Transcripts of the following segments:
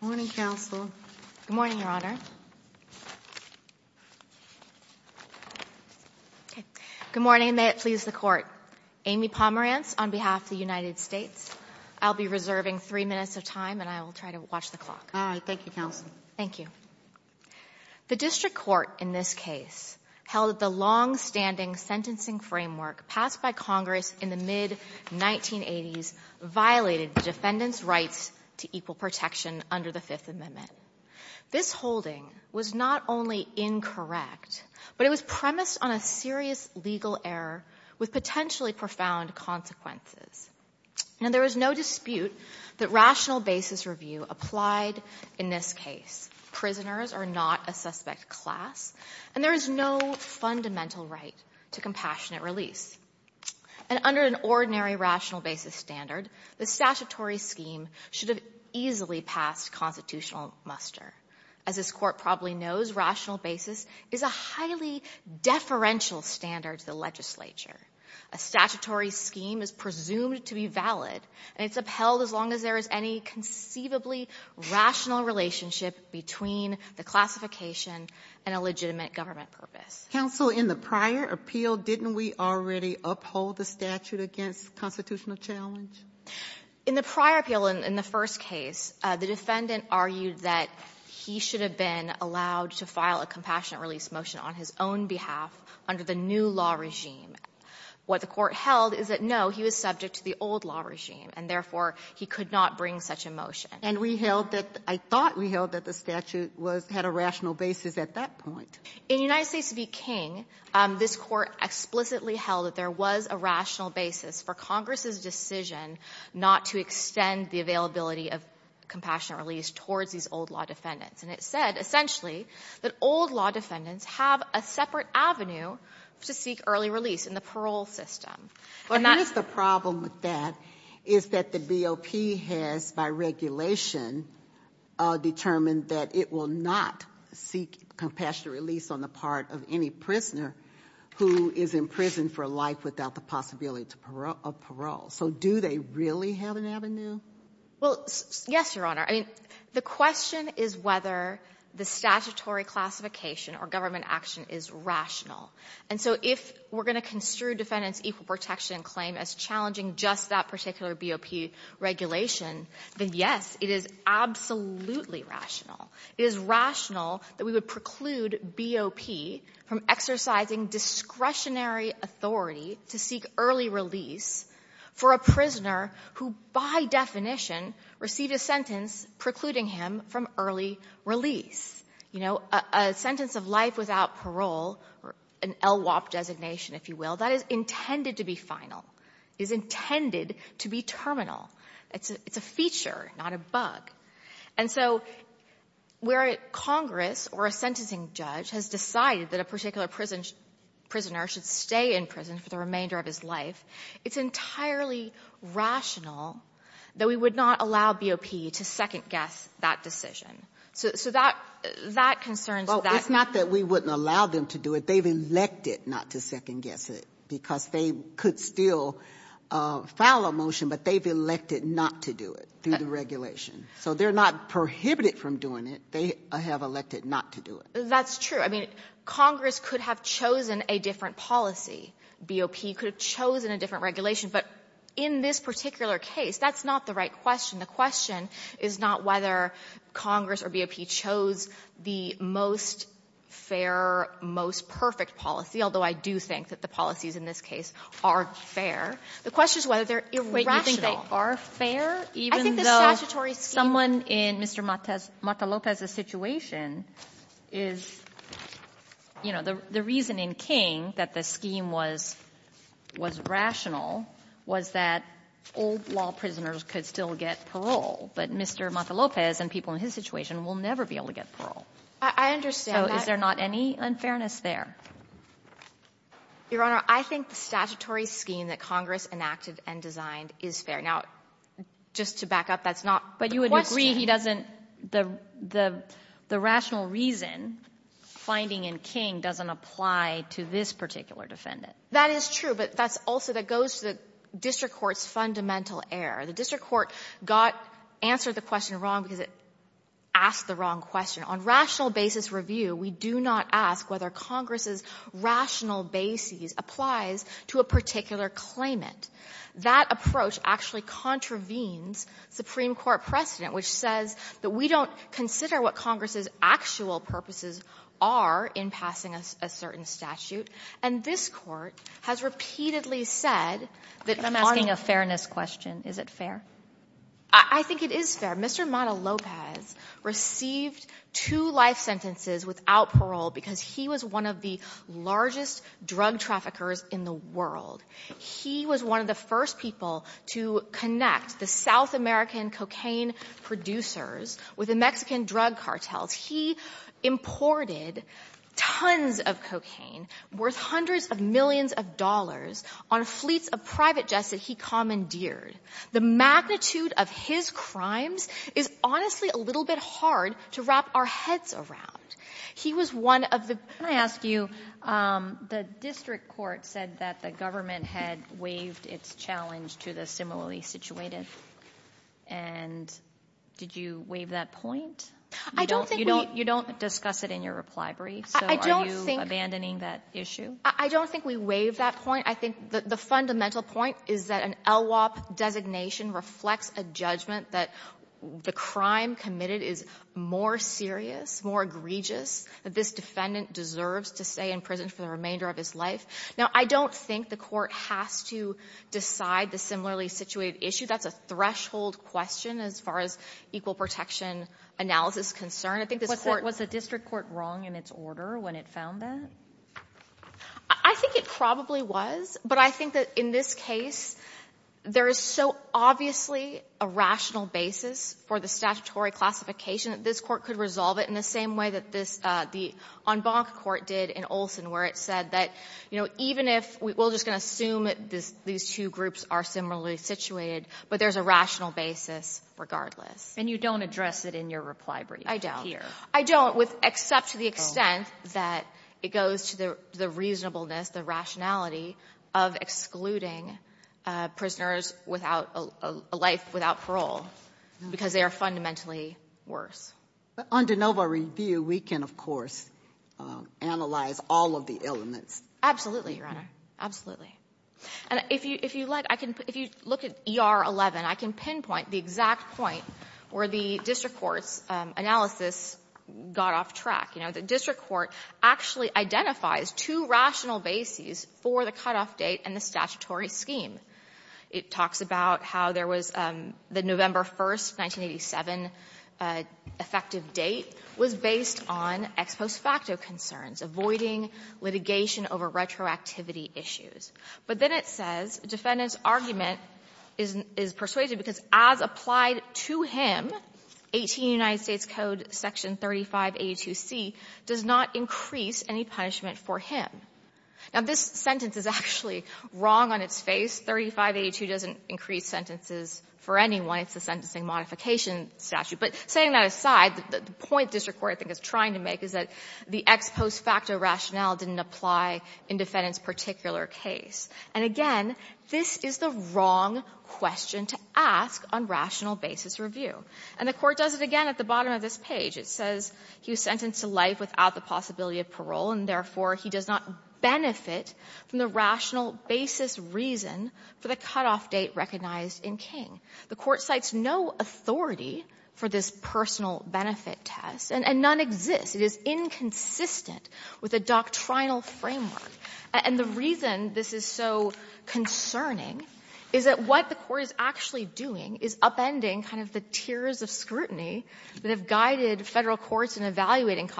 Good morning, Your Honor. Good morning, and may it please the Court. Amy Pomerance on behalf of the United States. I'll be reserving three minutes of time, and I will try to watch the clock. All right. Thank you, Counsel. Thank you. The District Court in this case held that the longstanding sentencing framework passed by Congress in the mid-1980s violated the defendant's rights to equal protection under the Fifth Amendment. This holding was not only incorrect, but it was premised on a serious legal error with potentially profound consequences. Now, there is no dispute that rational basis review applied in this case. Prisoners are not a suspect class, and there is no fundamental right to compassionate release. And under an ordinary rational basis standard, the statutory scheme should have easily passed constitutional muster. As this Court probably knows, rational basis is a highly deferential standard to the legislature. A statutory scheme is presumed to be valid, and it's upheld as long as there is any conceivably rational relationship between the classification and a legitimate government purpose. Counsel, in the prior appeal, didn't we already uphold the statute against constitutional challenge? In the prior appeal, in the first case, the defendant argued that he should have been allowed to file a compassionate release motion on his own behalf under the new law regime. What the Court held is that, no, he was subject to the old law regime, and therefore, he could not bring such a motion. And we held that — I thought we held that the statute was — had a rational basis at that point. In United States v. King, this Court explicitly held that there was a rational basis for Congress's decision not to extend the availability of compassionate release towards these old law defendants. And it said, essentially, that old law defendants have a separate avenue to seek early release in the parole system. What is the problem with that is that the BOP has, by regulation, determined that it will not seek compassionate release on the part of any prisoner who is in prison for life without the possibility of parole. So do they really have an avenue? Well, yes, Your Honor. I mean, the question is whether the statutory classification or government action is rational. And so if we're going to construe defendants' equal protection claim as challenging just that particular BOP regulation, then, yes, it is absolutely rational. It is rational that we would preclude BOP from exercising discretionary authority to seek early release for a prisoner who, by definition, received a sentence precluding him from early release. You know, a sentence of life without parole, an LWOP designation, if you will, that is intended to be final, is intended to be terminal. It's a feature, not a bug. And so where Congress or a sentencing judge has decided that a particular prisoner should stay in prison for the remainder of his life, it's entirely rational that we would not allow BOP to second-guess that decision. So that concerns that. Well, it's not that we wouldn't allow them to do it. They've elected not to second-guess it because they could still file a motion, but they've elected not to do it through the regulation. So they're not prohibited from doing it. They have elected not to do it. That's true. I mean, Congress could have chosen a different policy. BOP could have chosen a different regulation. But in this particular case, that's not the right question. The question is not whether Congress or BOP chose the most fair, most perfect policy, although I do think that the policies in this case are fair. The question is whether they're irrational. You think they are fair, even though someone in Mr. Matalopes' situation is, you know, the reason in King that the scheme was rational was that old law prisoners could still get parole. But Mr. Matalopes and people in his situation will never be able to get parole. I understand that. So is there not any unfairness there? Your Honor, I think the statutory scheme that Congress enacted and designed is fair. Now, just to back up, that's not the question. The rational reason finding in King doesn't apply to this particular defendant. That is true, but that's also that goes to the district court's fundamental error. The district court got answered the question wrong because it asked the wrong question. On rational basis review, we do not ask whether Congress's rational basis applies to a particular claimant. That approach actually contravenes Supreme Court precedent, which says that we don't consider what Congress's actual purposes are in passing a certain statute. And this Court has repeatedly said that on the ---- I'm asking a fairness question. Is it fair? I think it is fair. Mr. Matalopes received two life sentences without parole because he was one of the largest drug traffickers in the world. He was one of the first people to connect the South American cocaine producers with the Mexican drug cartels. He imported tons of cocaine worth hundreds of millions of dollars on fleets of private jets that he commandeered. The magnitude of his crimes is honestly a little bit hard to wrap our heads around. He was one of the ---- Can I ask you, the district court said that the government had waived its challenge to the similarly situated. And did you waive that point? I don't think we ---- You don't discuss it in your reply brief. So are you abandoning that issue? I don't think we waived that point. I think the fundamental point is that an LWOP designation reflects a judgment that the crime committed is more serious, more egregious, that this defendant deserves to stay in prison for the remainder of his life. Now, I don't think the Court has to decide the similarly situated issue. That's a threshold question as far as equal protection analysis is concerned. I think this Court ---- Was the district court wrong in its order when it found that? I think it probably was. But I think that in this case, there is so obviously a rational basis for the statutory classification that this Court could resolve it in the same way that this ---- on Bonk Court did in Olson, where it said that, you know, even if we're just going to assume these two groups are similarly situated, but there's a rational basis regardless. And you don't address it in your reply brief here. I don't. Except to the extent that it goes to the reasonableness, the rationality, of excluding prisoners without a life without parole, because they are fundamentally worse. On de novo review, we can, of course, analyze all of the elements. Absolutely, Your Honor. Absolutely. And if you like, I can ---- if you look at ER11, I can pinpoint the exact point where the district court's analysis got off track. You know, the district court actually identifies two rational bases for the cutoff date and the statutory scheme. It talks about how there was the November 1, 1987 effective date was based on ex post activity issues. But then it says the defendant's argument is persuaded because as applied to him, 18 United States Code section 3582C does not increase any punishment for him. Now, this sentence is actually wrong on its face. 3582 doesn't increase sentences for anyone. It's a sentencing modification statute. But setting that aside, the point the district court I think is trying to make is that the ex post facto rationale didn't apply in defendant's particular case. And again, this is the wrong question to ask on rational basis review. And the Court does it again at the bottom of this page. It says he was sentenced to life without the possibility of parole, and therefore he does not benefit from the rational basis reason for the cutoff date recognized in King. The Court cites no authority for this personal benefit test. And none exists. It is inconsistent with a doctrinal framework. And the reason this is so concerning is that what the Court is actually doing is upending kind of the tiers of scrutiny that have guided Federal courts in evaluating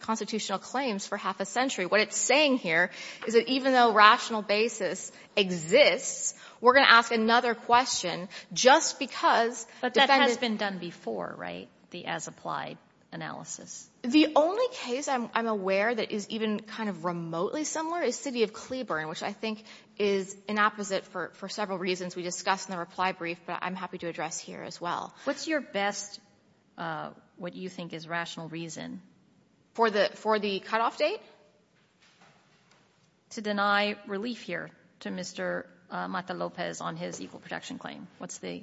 constitutional claims for half a century. What it's saying here is that even though rational basis exists, we're going to ask another question just because defendant's ---- But that has been done before, right, the as applied analysis? The only case I'm aware that is even kind of remotely similar is city of Cleburne, which I think is an opposite for several reasons we discussed in the reply brief, but I'm happy to address here as well. What's your best what you think is rational reason? For the cutoff date? To deny relief here to Mr. Mata Lopez on his equal protection claim. What's the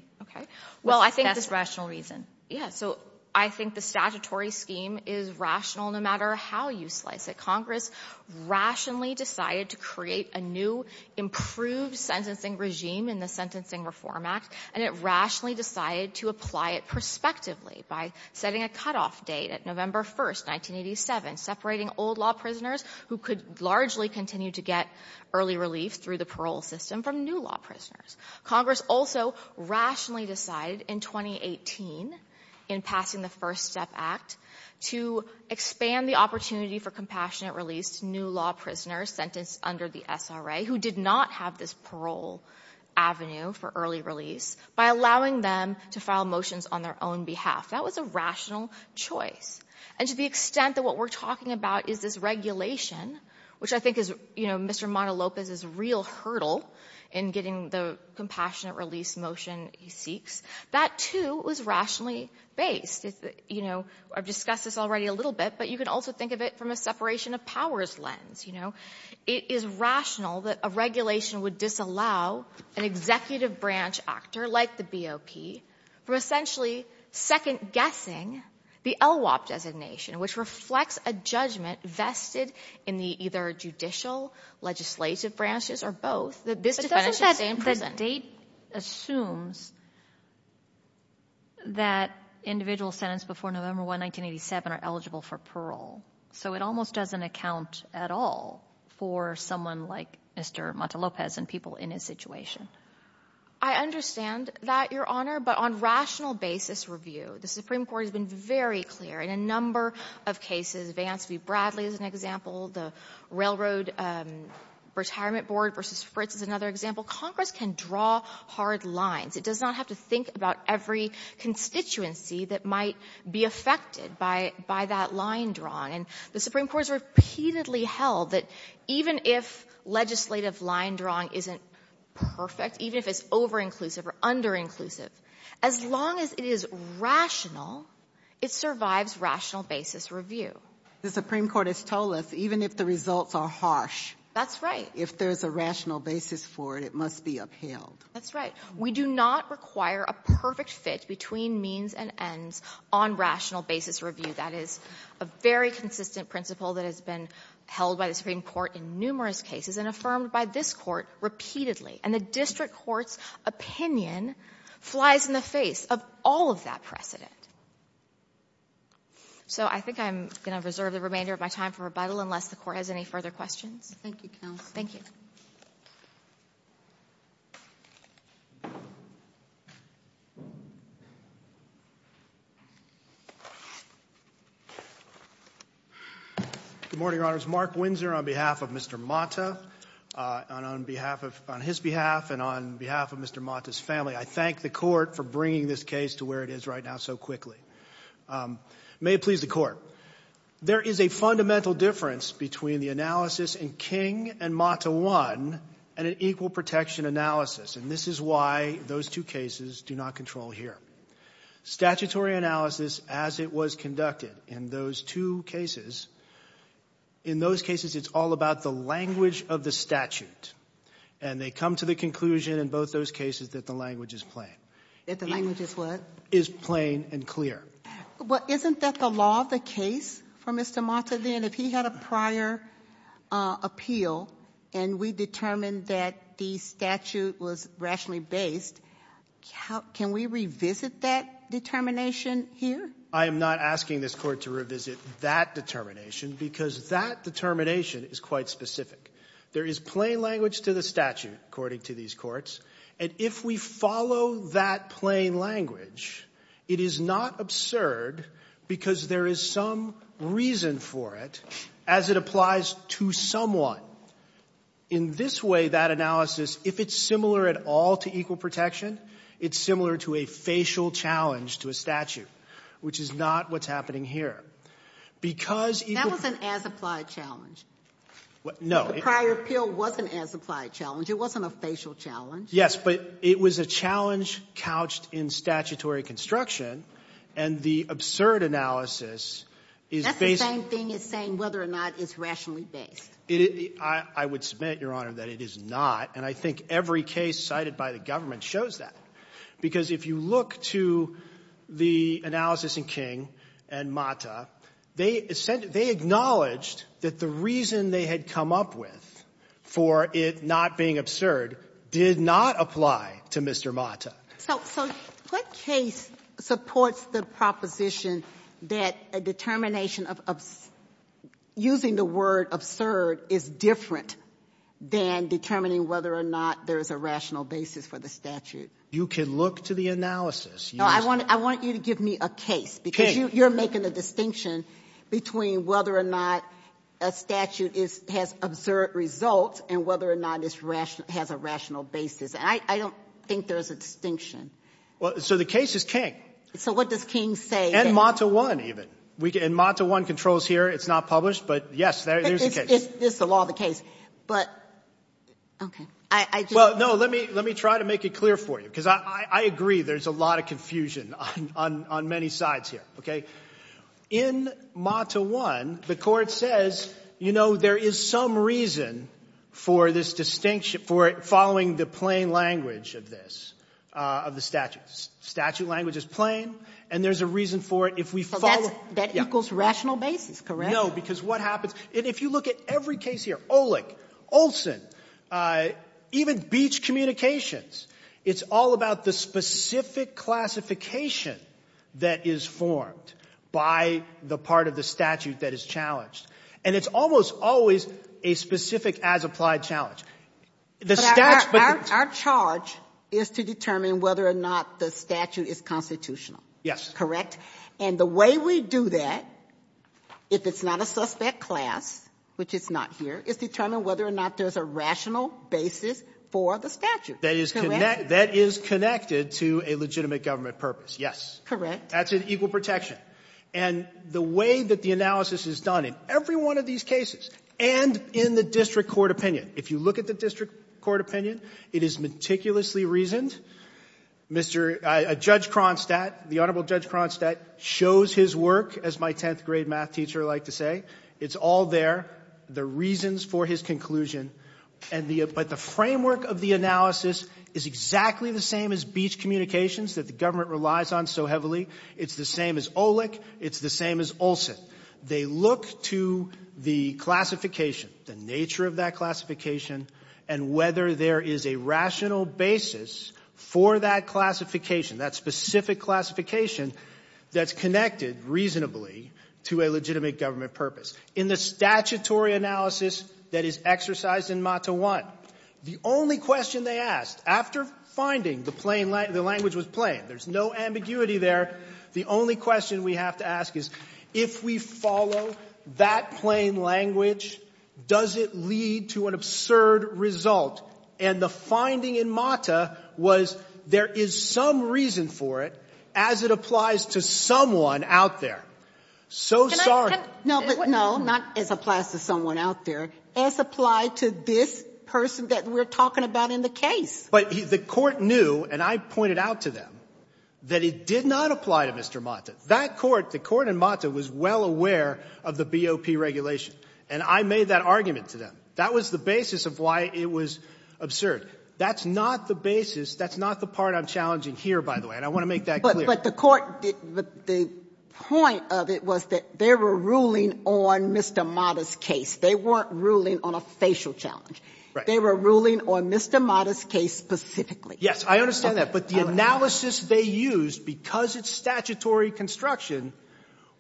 best rational reason? Yeah. So I think the statutory scheme is rational no matter how you slice it. Congress rationally decided to create a new, improved sentencing regime in the Sentencing Reform Act, and it rationally decided to apply it prospectively by setting a cutoff date at November 1st, 1987, separating old law prisoners who could largely continue to get early relief through the parole system from new law prisoners. Congress also rationally decided in 2018 in passing the First Step Act to expand the opportunity for compassionate release to new law prisoners sentenced under the SRA who did not have this parole avenue for early release by allowing them to file motions on their own behalf. That was a rational choice. And to the extent that what we're talking about is this regulation, which I think is, you know, Mr. Mata Lopez's real hurdle in getting the compassionate release motion he seeks, that, too, was rationally based. You know, I've discussed this already a little bit, but you can also think of it from a separation of powers lens, you know. It is rational that a regulation would disallow an executive branch actor like the BOP from essentially second-guessing the LWOP designation, which reflects a judgment vested in the either judicial, legislative branches, or both, that this defendant should stay in prison. But doesn't that state assumes that individuals sentenced before November 1, 1987, are eligible for parole? So it almost doesn't account at all for someone like Mr. Mata Lopez and people in his situation. I understand that, Your Honor, but on rational basis review, the Supreme Court has been very clear. In a number of cases, Vance v. Bradley is an example, the Railroad Retirement Board v. Fritz is another example, Congress can draw hard lines. It does not have to think about every constituency that might be affected by that line drawing. And the Supreme Court has repeatedly held that even if legislative line drawing isn't perfect, even if it's over-inclusive or under-inclusive, as long as it is rational, it survives rational basis review. The Supreme Court has told us even if the results are harsh. That's right. If there's a rational basis for it, it must be upheld. That's right. We do not require a perfect fit between means and ends on rational basis review. That is a very consistent principle that has been held by the Supreme Court in numerous cases and affirmed by this Court repeatedly. And the district court's opinion flies in the face of all of that precedent. So I think I'm going to reserve the remainder of my time for rebuttal unless the Court has any further questions. Thank you, Counsel. Thank you. Good morning, Your Honors. Mark Windsor on behalf of Mr. Mata, on his behalf and on behalf of Mr. Mata's family. I thank the Court for bringing this case to where it is right now so quickly. May it please the Court. There is a fundamental difference between the analysis in King and Mata 1 and an equal protection analysis. And this is why those two cases do not control here. Statutory analysis as it was conducted in those two cases, in those cases it's all about the language of the statute. And they come to the conclusion in both those cases that the language is plain. That the language is what? Is plain and clear. Well, isn't that the law of the case for Mr. Mata then? If he had a prior appeal and we determined that the statute was rationally based, can we revisit that determination here? I am not asking this Court to revisit that determination because that determination is quite specific. There is plain language to the statute according to these courts. And if we follow that plain language, it is not absurd because there is some reason for it as it applies to someone. Well, in this way, that analysis, if it's similar at all to equal protection, it's similar to a facial challenge to a statute, which is not what's happening here. That was an as-applied challenge. No. The prior appeal was an as-applied challenge. It wasn't a facial challenge. Yes, but it was a challenge couched in statutory construction. And the absurd analysis is based That's the same thing as saying whether or not it's rationally based. I would submit, Your Honor, that it is not. And I think every case cited by the government shows that. Because if you look to the analysis in King and Mata, they acknowledged that the reason they had come up with for it not being absurd did not apply to Mr. Mata. So what case supports the proposition that a determination of using the word absurd is different than determining whether or not there is a rational basis for the statute? You can look to the analysis. No, I want you to give me a case because you're making a distinction between whether or not a statute has absurd results and whether or not it has a rational basis. And I don't think there's a distinction. So the case is King. So what does King say? And Mata 1 even. And Mata 1 controls here. It's not published. But, yes, there's a case. This is the law of the case. But, okay. Well, no, let me try to make it clear for you. Because I agree there's a lot of confusion on many sides here. Okay? In Mata 1, the court says, you know, there is some reason for this distinction for following the plain language of this, of the statute. Statute language is plain. And there's a reason for it if we follow it. So that equals rational basis, correct? No, because what happens — if you look at every case here, Olick, Olson, even Beach Communications, it's all about the specific classification that is formed by the part of the statute that is challenged. And it's almost always a specific as-applied challenge. But our charge is to determine whether or not the statute is constitutional. Yes. Correct? And the way we do that, if it's not a suspect class, which it's not here, is determine whether or not there's a rational basis for the statute. That is connected to a legitimate government purpose. Yes. Correct. That's an equal protection. Yes. And the way that the analysis is done in every one of these cases and in the district court opinion, if you look at the district court opinion, it is meticulously reasoned. Mr. — Judge Kronstadt, the Honorable Judge Kronstadt shows his work, as my 10th grade math teacher liked to say. It's all there, the reasons for his conclusion. But the framework of the analysis is exactly the same as Beach Communications, that the government relies on so heavily. It's the same as OLEC. It's the same as Olson. They look to the classification, the nature of that classification, and whether there is a rational basis for that classification, that specific classification that's connected reasonably to a legitimate government purpose. In the statutory analysis that is exercised in MATA 1, the only question they asked after finding the plain — the language was plain. There's no ambiguity there. The only question we have to ask is, if we follow that plain language, does it lead to an absurd result? And the finding in MATA was there is some reason for it, as it applies to someone out there. So sorry. Can I — No, but no, not as applies to someone out there. As applied to this person that we're talking about in the case. But the court knew, and I pointed out to them, that it did not apply to Mr. Mata. That court, the court in MATA, was well aware of the BOP regulation. And I made that argument to them. That was the basis of why it was absurd. That's not the basis. That's not the part I'm challenging here, by the way. And I want to make that clear. But the court — the point of it was that they were ruling on Mr. Mata's case. They weren't ruling on a facial challenge. Right. They were ruling on Mr. Mata's case specifically. Yes. I understand that. But the analysis they used, because it's statutory construction,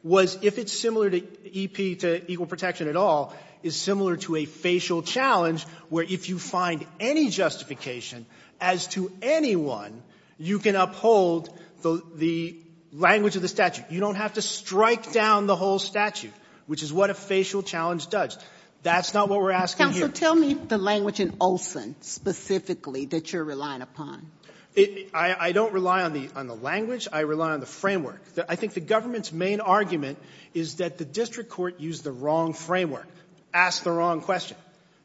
was if it's similar to EP, to equal protection at all, is similar to a facial challenge, where if you find any justification as to anyone, you can uphold the language of the statute. You don't have to strike down the whole statute, which is what a facial challenge does. That's not what we're asking here. Counsel, tell me the language in Olson specifically that you're relying upon. I don't rely on the language. I rely on the framework. I think the government's main argument is that the district court used the wrong framework, asked the wrong question.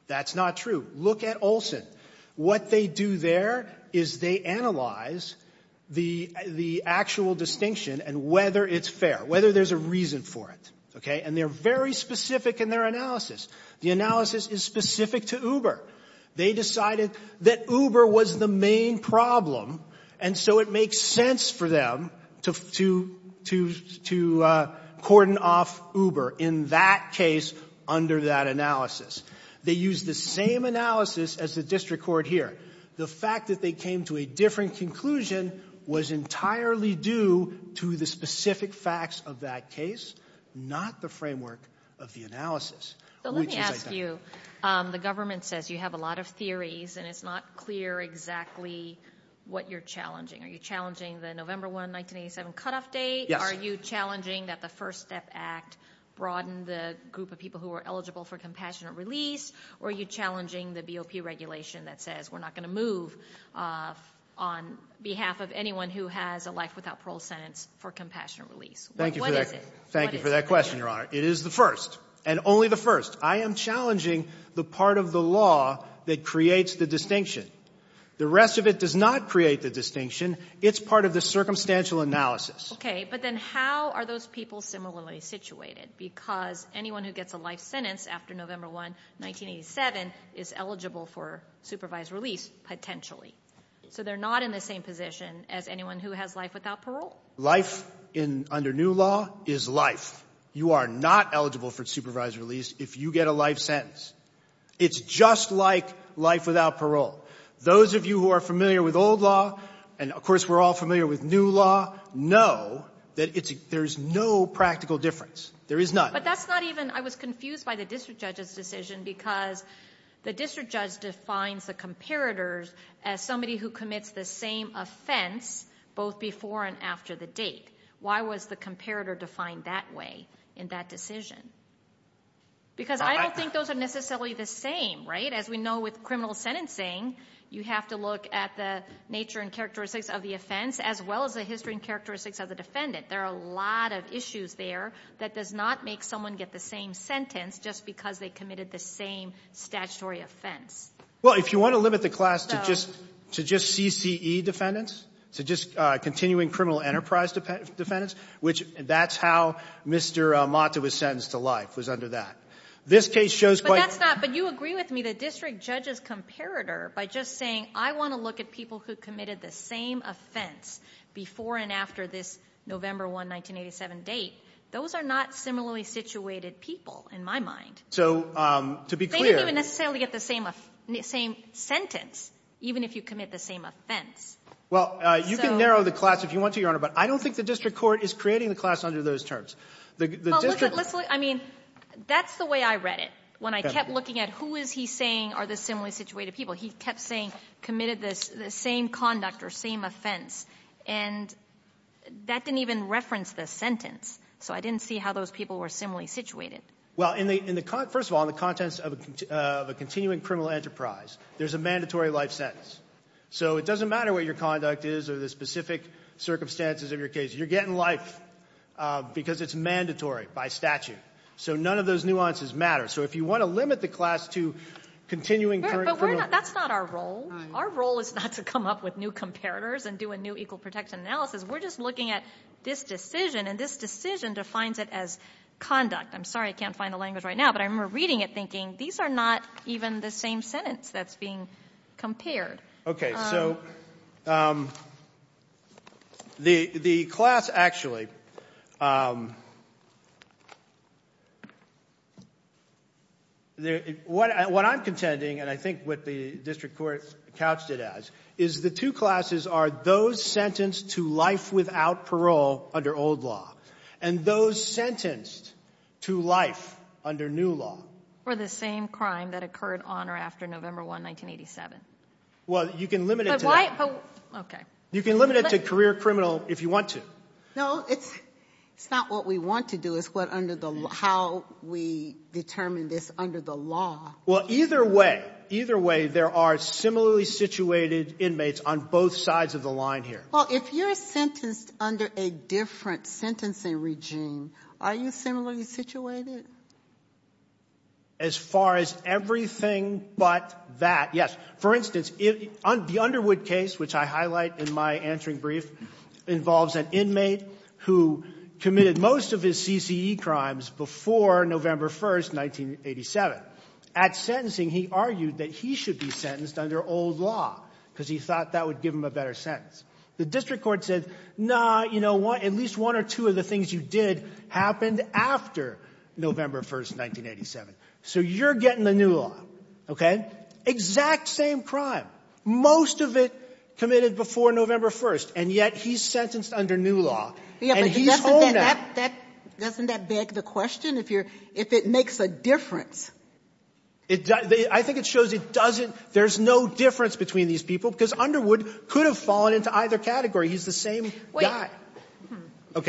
That's not true. Look at Olson. What they do there is they analyze the actual distinction and whether it's fair, whether there's a reason for it. Okay? And they're very specific in their analysis. The analysis is specific to Uber. They decided that Uber was the main problem, and so it makes sense for them to cordon off Uber in that case under that analysis. They used the same analysis as the district court here. The fact that they came to a different conclusion was entirely due to the specific facts of that case, not the framework of the analysis. Let me ask you, the government says you have a lot of theories, and it's not clear exactly what you're challenging. Are you challenging the November 1, 1987 cutoff date? Are you challenging that the First Step Act broadened the group of people who were eligible for compassionate release, or are you challenging the BOP regulation that says we're not going to move on behalf of anyone who has a life without parole sentence for compassionate release? What is it? Thank you for that question, Your Honor. It is the first, and only the first. I am challenging the part of the law that creates the distinction. The rest of it does not create the distinction. It's part of the circumstantial analysis. Okay, but then how are those people similarly situated? Because anyone who gets a life sentence after November 1, 1987, is eligible for supervised release, potentially. So they're not in the same position as anyone who has life without parole. Life under new law is life. You are not eligible for supervised release if you get a life sentence. It's just like life without parole. Those of you who are familiar with old law, and of course we're all familiar with new law, know that there's no practical difference. There is none. But that's not even, I was confused by the district judge's decision because the district judge defines the comparators as somebody who commits the same offense both before and after the date. Why was the comparator defined that way in that decision? Because I don't think those are necessarily the same, right? As we know with criminal sentencing, you have to look at the nature and characteristics of the offense as well as the history and characteristics of the defendant. There are a lot of issues there that does not make someone get the same sentence just because they committed the same statutory offense. Well, if you want to limit the class to just CCE defendants, to just That's how Mr. Mata was sentenced to life, was under that. This case shows quite... But that's not, but you agree with me, the district judge's comparator, by just saying I want to look at people who committed the same offense before and after this November 1, 1987 date, those are not similarly situated people in my mind. So to be clear... They didn't even necessarily get the same sentence even if you commit the same offense. Well, you can narrow the class if you want to, Your Honor, but I don't think the district court is creating the class under those terms. The district... I mean, that's the way I read it. When I kept looking at who is he saying are the similarly situated people, he kept saying committed the same conduct or same offense. And that didn't even reference the sentence. So I didn't see how those people were similarly situated. Well, first of all, in the context of a continuing criminal enterprise, there's a mandatory life sentence. So it doesn't matter what your conduct is or the specific circumstances of your case. You're getting life because it's mandatory by statute. So none of those nuances matter. So if you want to limit the class to continuing criminal... That's not our role. Our role is not to come up with new comparators and do a new equal protection analysis. We're just looking at this decision, and this decision defines it as conduct. I'm sorry I can't find the language right now, but I remember reading it thinking these are not even the same sentence that's being compared. So the class actually... What I'm contending, and I think what the district court couched it as, is the two classes are those sentenced to life without parole under old law and those sentenced to life under new law. For the same crime that occurred on or after November 1, 1987. Well, you can limit it to that. Okay. You can limit it to career criminal if you want to. No, it's not what we want to do. It's how we determine this under the law. Well, either way, either way, there are similarly situated inmates on both sides of the line here. Well, if you're sentenced under a different sentencing regime, are you similarly situated? As far as everything but that, yes. For instance, the Underwood case, which I highlight in my answering brief, involves an inmate who committed most of his CCE crimes before November 1, 1987. At sentencing, he argued that he should be sentenced under old law because he thought that would give him a better sentence. The district court said, no, you know what, at least one or two of the things you did happened after November 1, 1987. So you're getting the new law. Okay. Exact same crime. Most of it committed before November 1, and yet he's sentenced under new law. And he's holding that. Doesn't that beg the question, if it makes a difference? I think it shows it doesn't. There's no difference between these people because Underwood could have fallen into either category. He's the same guy.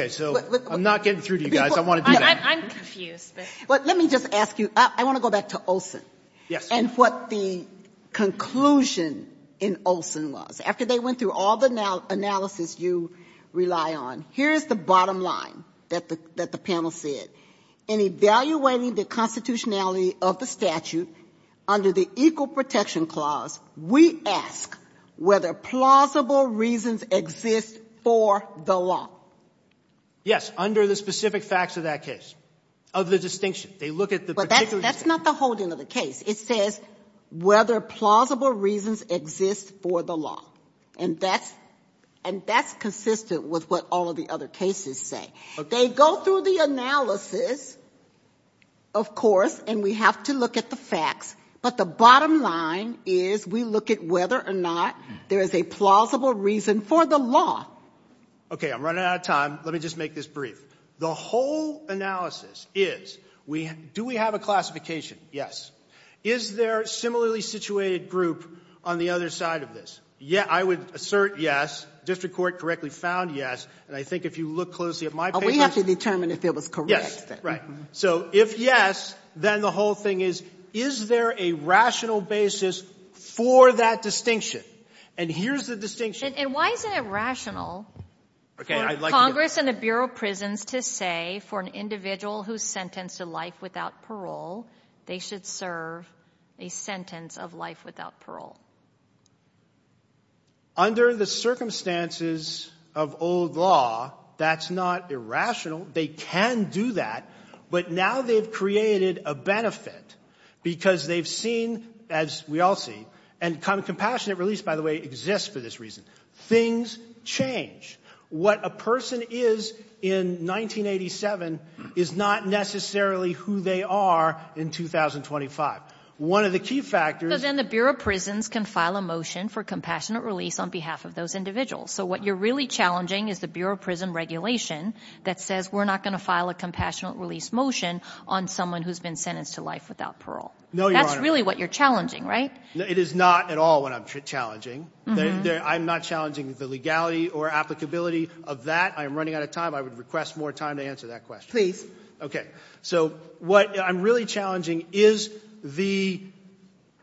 So I'm not getting through to you guys. I want to do that. I'm confused. But let me just ask you. I want to go back to Olson. Yes. And what the conclusion in Olson was. After they went through all the analysis you rely on, here is the bottom line that the panel said. In evaluating the constitutionality of the statute under the Equal Protection Clause, we ask whether plausible reasons exist for the law. Under the specific facts of that case. Of the distinction. They look at the particular case. But that's not the holding of the case. It says whether plausible reasons exist for the law. And that's consistent with what all of the other cases say. Okay. They go through the analysis, of course. And we have to look at the facts. But the bottom line is we look at whether or not there is a plausible reason for the law. Okay. I'm running out of time. Let me just make this brief. The whole analysis is do we have a classification? Yes. Is there a similarly situated group on the other side of this? Yeah. I would assert yes. District Court correctly found yes. And I think if you look closely at my papers. We have to determine if it was correct. Right. So, if yes, then the whole thing is, is there a rational basis for that distinction? And here's the distinction. And why isn't it rational for Congress and the Bureau of Prisons to say, for an individual who's sentenced to life without parole, they should serve a sentence of life without parole? Under the circumstances of old law, that's not irrational. They can do that. But now they've created a benefit because they've seen, as we all see, and compassionate release, by the way, exists for this reason. Things change. What a person is in 1987 is not necessarily who they are in 2025. One of the key factors. Because then the Bureau of Prisons can file a motion for compassionate release on behalf of those individuals. So what you're really challenging is the Bureau of Prison regulation that says we're not going to file a compassionate release motion on someone who's been sentenced to life without parole. No, Your Honor. That's really what you're challenging, right? It is not at all what I'm challenging. I'm not challenging the legality or applicability of that. I am running out of time. I would request more time to answer that question. Please. Okay. So what I'm really challenging is the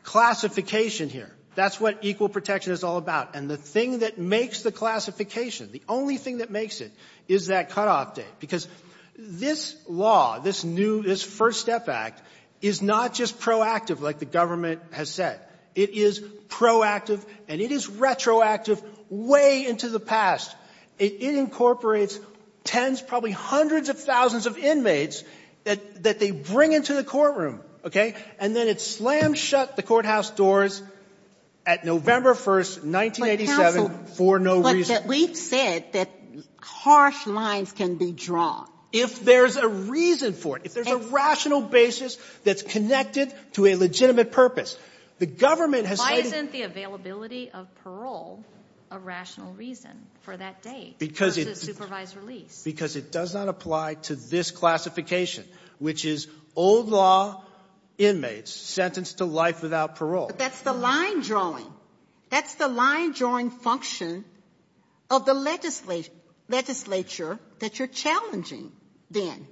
classification here. That's what equal protection is all about. And the thing that makes the classification, the only thing that makes it, is that cutoff date. Because this law, this new, this First Step Act, is not just proactive like the government has said. It is proactive and it is retroactive way into the past. It incorporates tens, probably hundreds of thousands of inmates that they bring into the courtroom. Okay? And then it slams shut the courthouse doors at November 1st, 1987, for no reason. But, counsel, we've said that harsh lines can be drawn. If there's a reason for it. If there's a rational basis that's connected to a legitimate purpose. The government has said why isn't the availability of parole a rational reason for that date versus supervised release? Because it does not apply to this classification, which is old law inmates sentenced to life without parole. But that's the line drawing. That's the line drawing function of the legislature that you're challenging then.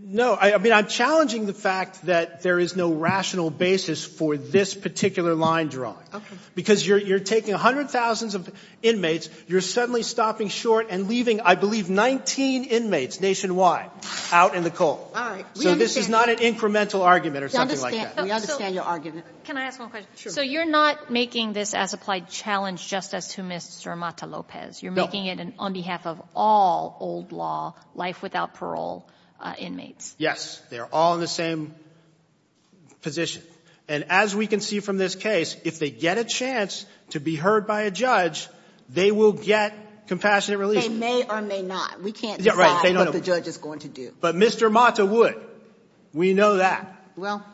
No. I mean, I'm challenging the fact that there is no rational basis for this particular line drawing. Okay. Because you're taking hundreds of thousands of inmates, you're suddenly stopping short and leaving, I believe, 19 inmates nationwide out in the cold. All right. So this is not an incremental argument or something like that. We understand your argument. Can I ask one question? Sure. So you're not making this as applied challenge just as to Mr. Mata Lopez. No. You're making it on behalf of all old law life without parole inmates. Yes. They are all in the same position. And as we can see from this case, if they get a chance to be heard by a judge, they will get compassionate release. They may or may not. We can't decide what the judge is going to do. But Mr. Mata would. We know that. Well,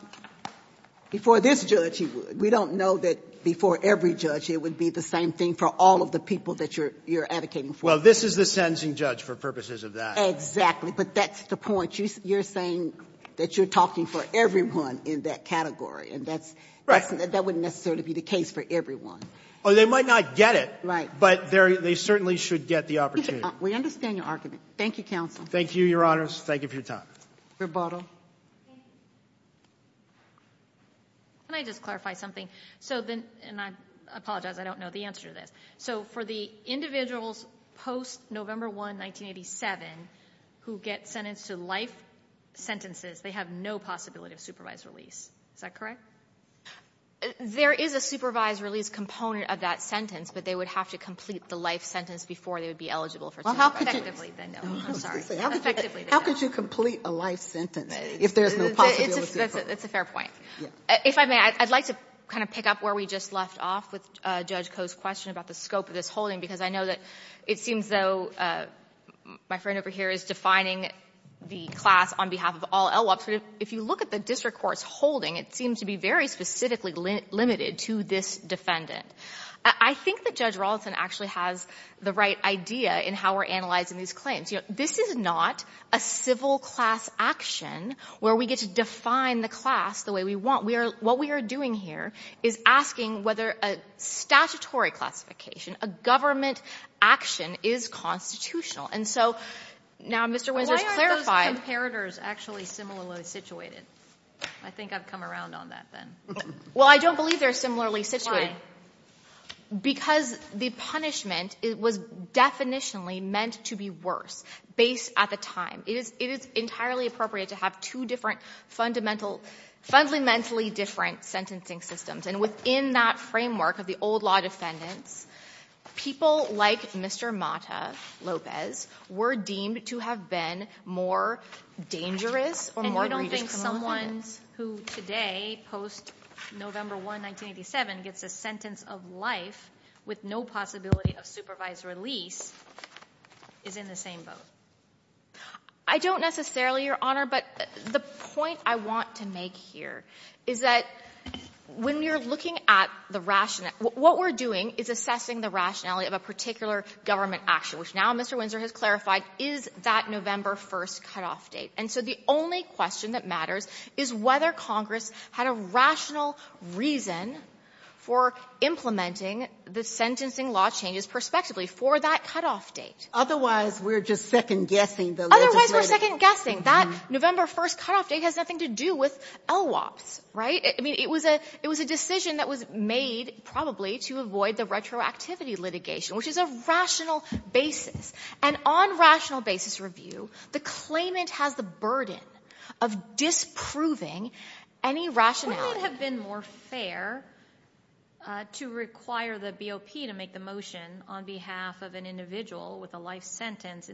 before this judge he would. We don't know that before every judge it would be the same thing for all of the people that you're advocating for. Well, this is the sentencing judge for purposes of that. Exactly. But that's the point. You're saying that you're talking for everyone in that category. And that wouldn't necessarily be the case for everyone. Oh, they might not get it. Right. But they certainly should get the opportunity. We understand your argument. Thank you, counsel. Thank you, Your Honors. Thank you for your time. Rebuttal. Thank you. Can I just clarify something? And I apologize. I don't know the answer to this. So for the individuals post-November 1, 1987, who get sentenced to life sentences, they have no possibility of supervised release. Is that correct? There is a supervised release component of that sentence, but they would have to complete the life sentence before they would be eligible for supervised release. How could you complete a life sentence if there's no possibility of a supervised release? That's a fair point. If I may, I'd like to kind of pick up where we just left off with Judge Koh's question about the scope of this holding, because I know that it seems though my friend over here is defining the class on behalf of all LWAPs. If you look at the district court's holding, it seems to be very specifically limited to this defendant. I think that Judge Rawlinson actually has the right idea in how we're analyzing these claims. You know, this is not a civil class action where we get to define the class the way we want. What we are doing here is asking whether a statutory classification, a government action, is constitutional. And so now Mr. Windsor has clarified. Why aren't those comparators actually similarly situated? I think I've come around on that then. Well, I don't believe they're similarly situated. Why? Because the punishment was definitionally meant to be worse based at the time. It is entirely appropriate to have two fundamentally different sentencing systems. And within that framework of the old law defendants, people like Mr. Mata Lopez were deemed to have been more dangerous or more grievous. And you don't think someone who today, post-November 1, 1987, gets a sentence of life with no possibility of supervised release is in the same boat? I don't necessarily, Your Honor, but the point I want to make here is that when you're looking at the rationale, what we're doing is assessing the rationality of a particular government action, which now Mr. Windsor has clarified is that November 1st cutoff date. And so the only question that matters is whether Congress had a rational reason for implementing the sentencing law changes prospectively for that cutoff date. Otherwise, we're just second-guessing the legislation. Otherwise, we're second-guessing. That November 1st cutoff date has nothing to do with LWOPs, right? I mean, it was a decision that was made probably to avoid the retroactivity litigation, which is a rational basis. And on rational basis review, the claimant has the burden of disproving any rationality. Wouldn't it have been more fair to require the BOP to make the motion on behalf of an individual with a life sentence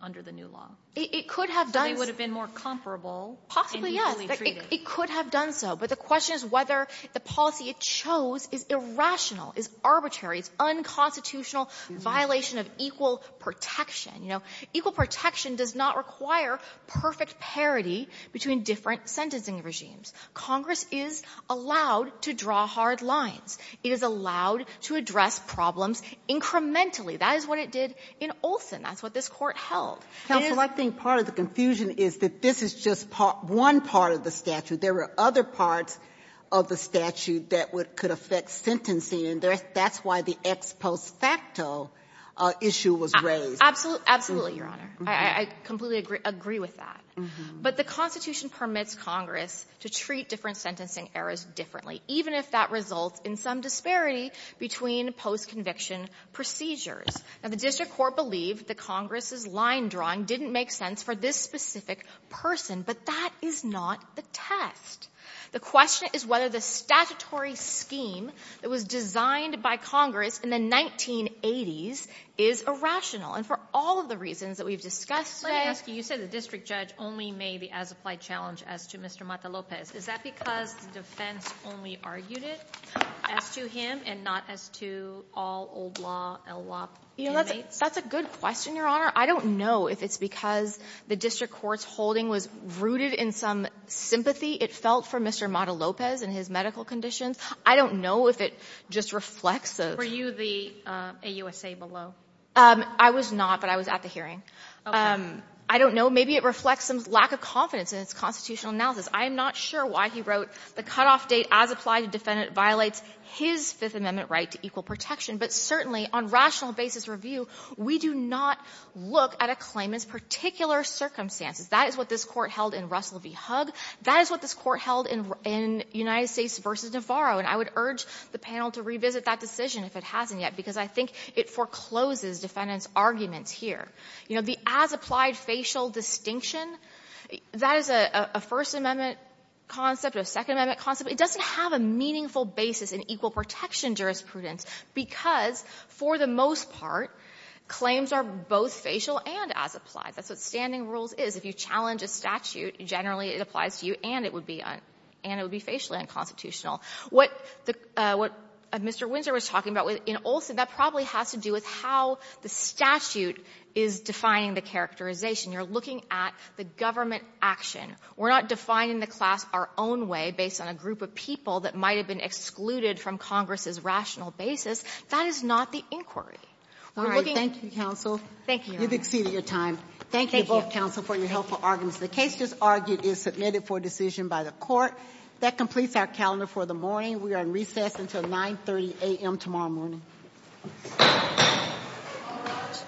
under the new law? It could have done so. So they would have been more comparable and equally treated. Possibly, yes. It could have done so. But the question is whether the policy it chose is irrational, is arbitrary, is unconstitutional, violation of equal protection. You know, equal protection does not require perfect parity between different sentencing regimes. Congress is allowed to draw hard lines. It is allowed to address problems incrementally. That is what it did in Olson. That's what this Court held. It is — Counsel, I think part of the confusion is that this is just one part of the statute. There are other parts of the statute that could affect sentencing, and that's why the ex post facto issue was raised. Absolutely, Your Honor. I completely agree with that. But the Constitution permits Congress to treat different sentencing errors differently, even if that results in some disparity between post-conviction procedures. Now, the district court believed that Congress's line drawing didn't make sense for this specific person, but that is not the test. The question is whether the statutory scheme that was designed by Congress in the 1980s is irrational. And for all of the reasons that we've discussed today — Let me ask you. You said the district judge only made the as-applied challenge as to Mr. Mata-Lopez. Is that because the defense only argued it as to him and not as to all old-law inmates? That's a good question, Your Honor. I don't know if it's because the district court's holding was rooted in some sympathy it felt for Mr. Mata-Lopez and his medical conditions. I don't know if it just reflects the — Were you the AUSA below? I was not, but I was at the hearing. Okay. I don't know. Maybe it reflects some lack of confidence in its constitutional analysis. I am not sure why he wrote the cutoff date as-applied defendant violates his Fifth Amendment right to equal protection. But certainly, on rational basis review, we do not look at a claimant's particular circumstances. That is what this Court held in Russell v. Hugg. That is what this Court held in United States v. Navarro. And I would urge the panel to revisit that decision, if it hasn't yet, because I think it forecloses defendants' arguments here. You know, the as-applied facial distinction, that is a First Amendment concept, a Second Amendment concept. It doesn't have a meaningful basis in equal protection jurisprudence because, for the most part, claims are both facial and as-applied. That's what standing rules is. If you challenge a statute, generally it applies to you, and it would be — and it would be facially unconstitutional. What Mr. Windsor was talking about in Olson, that probably has to do with how the is defining the characterization. You're looking at the government action. We're not defining the class our own way based on a group of people that might have been excluded from Congress's rational basis. That is not the inquiry. We're looking at — Sotomayor, thank you, counsel. Thank you, Your Honor. You've exceeded your time. Thank you both, counsel, for your helpful arguments. The case just argued is submitted for decision by the Court. That completes our calendar for the morning. We are in recess until 9.30 a.m. tomorrow morning. All rise.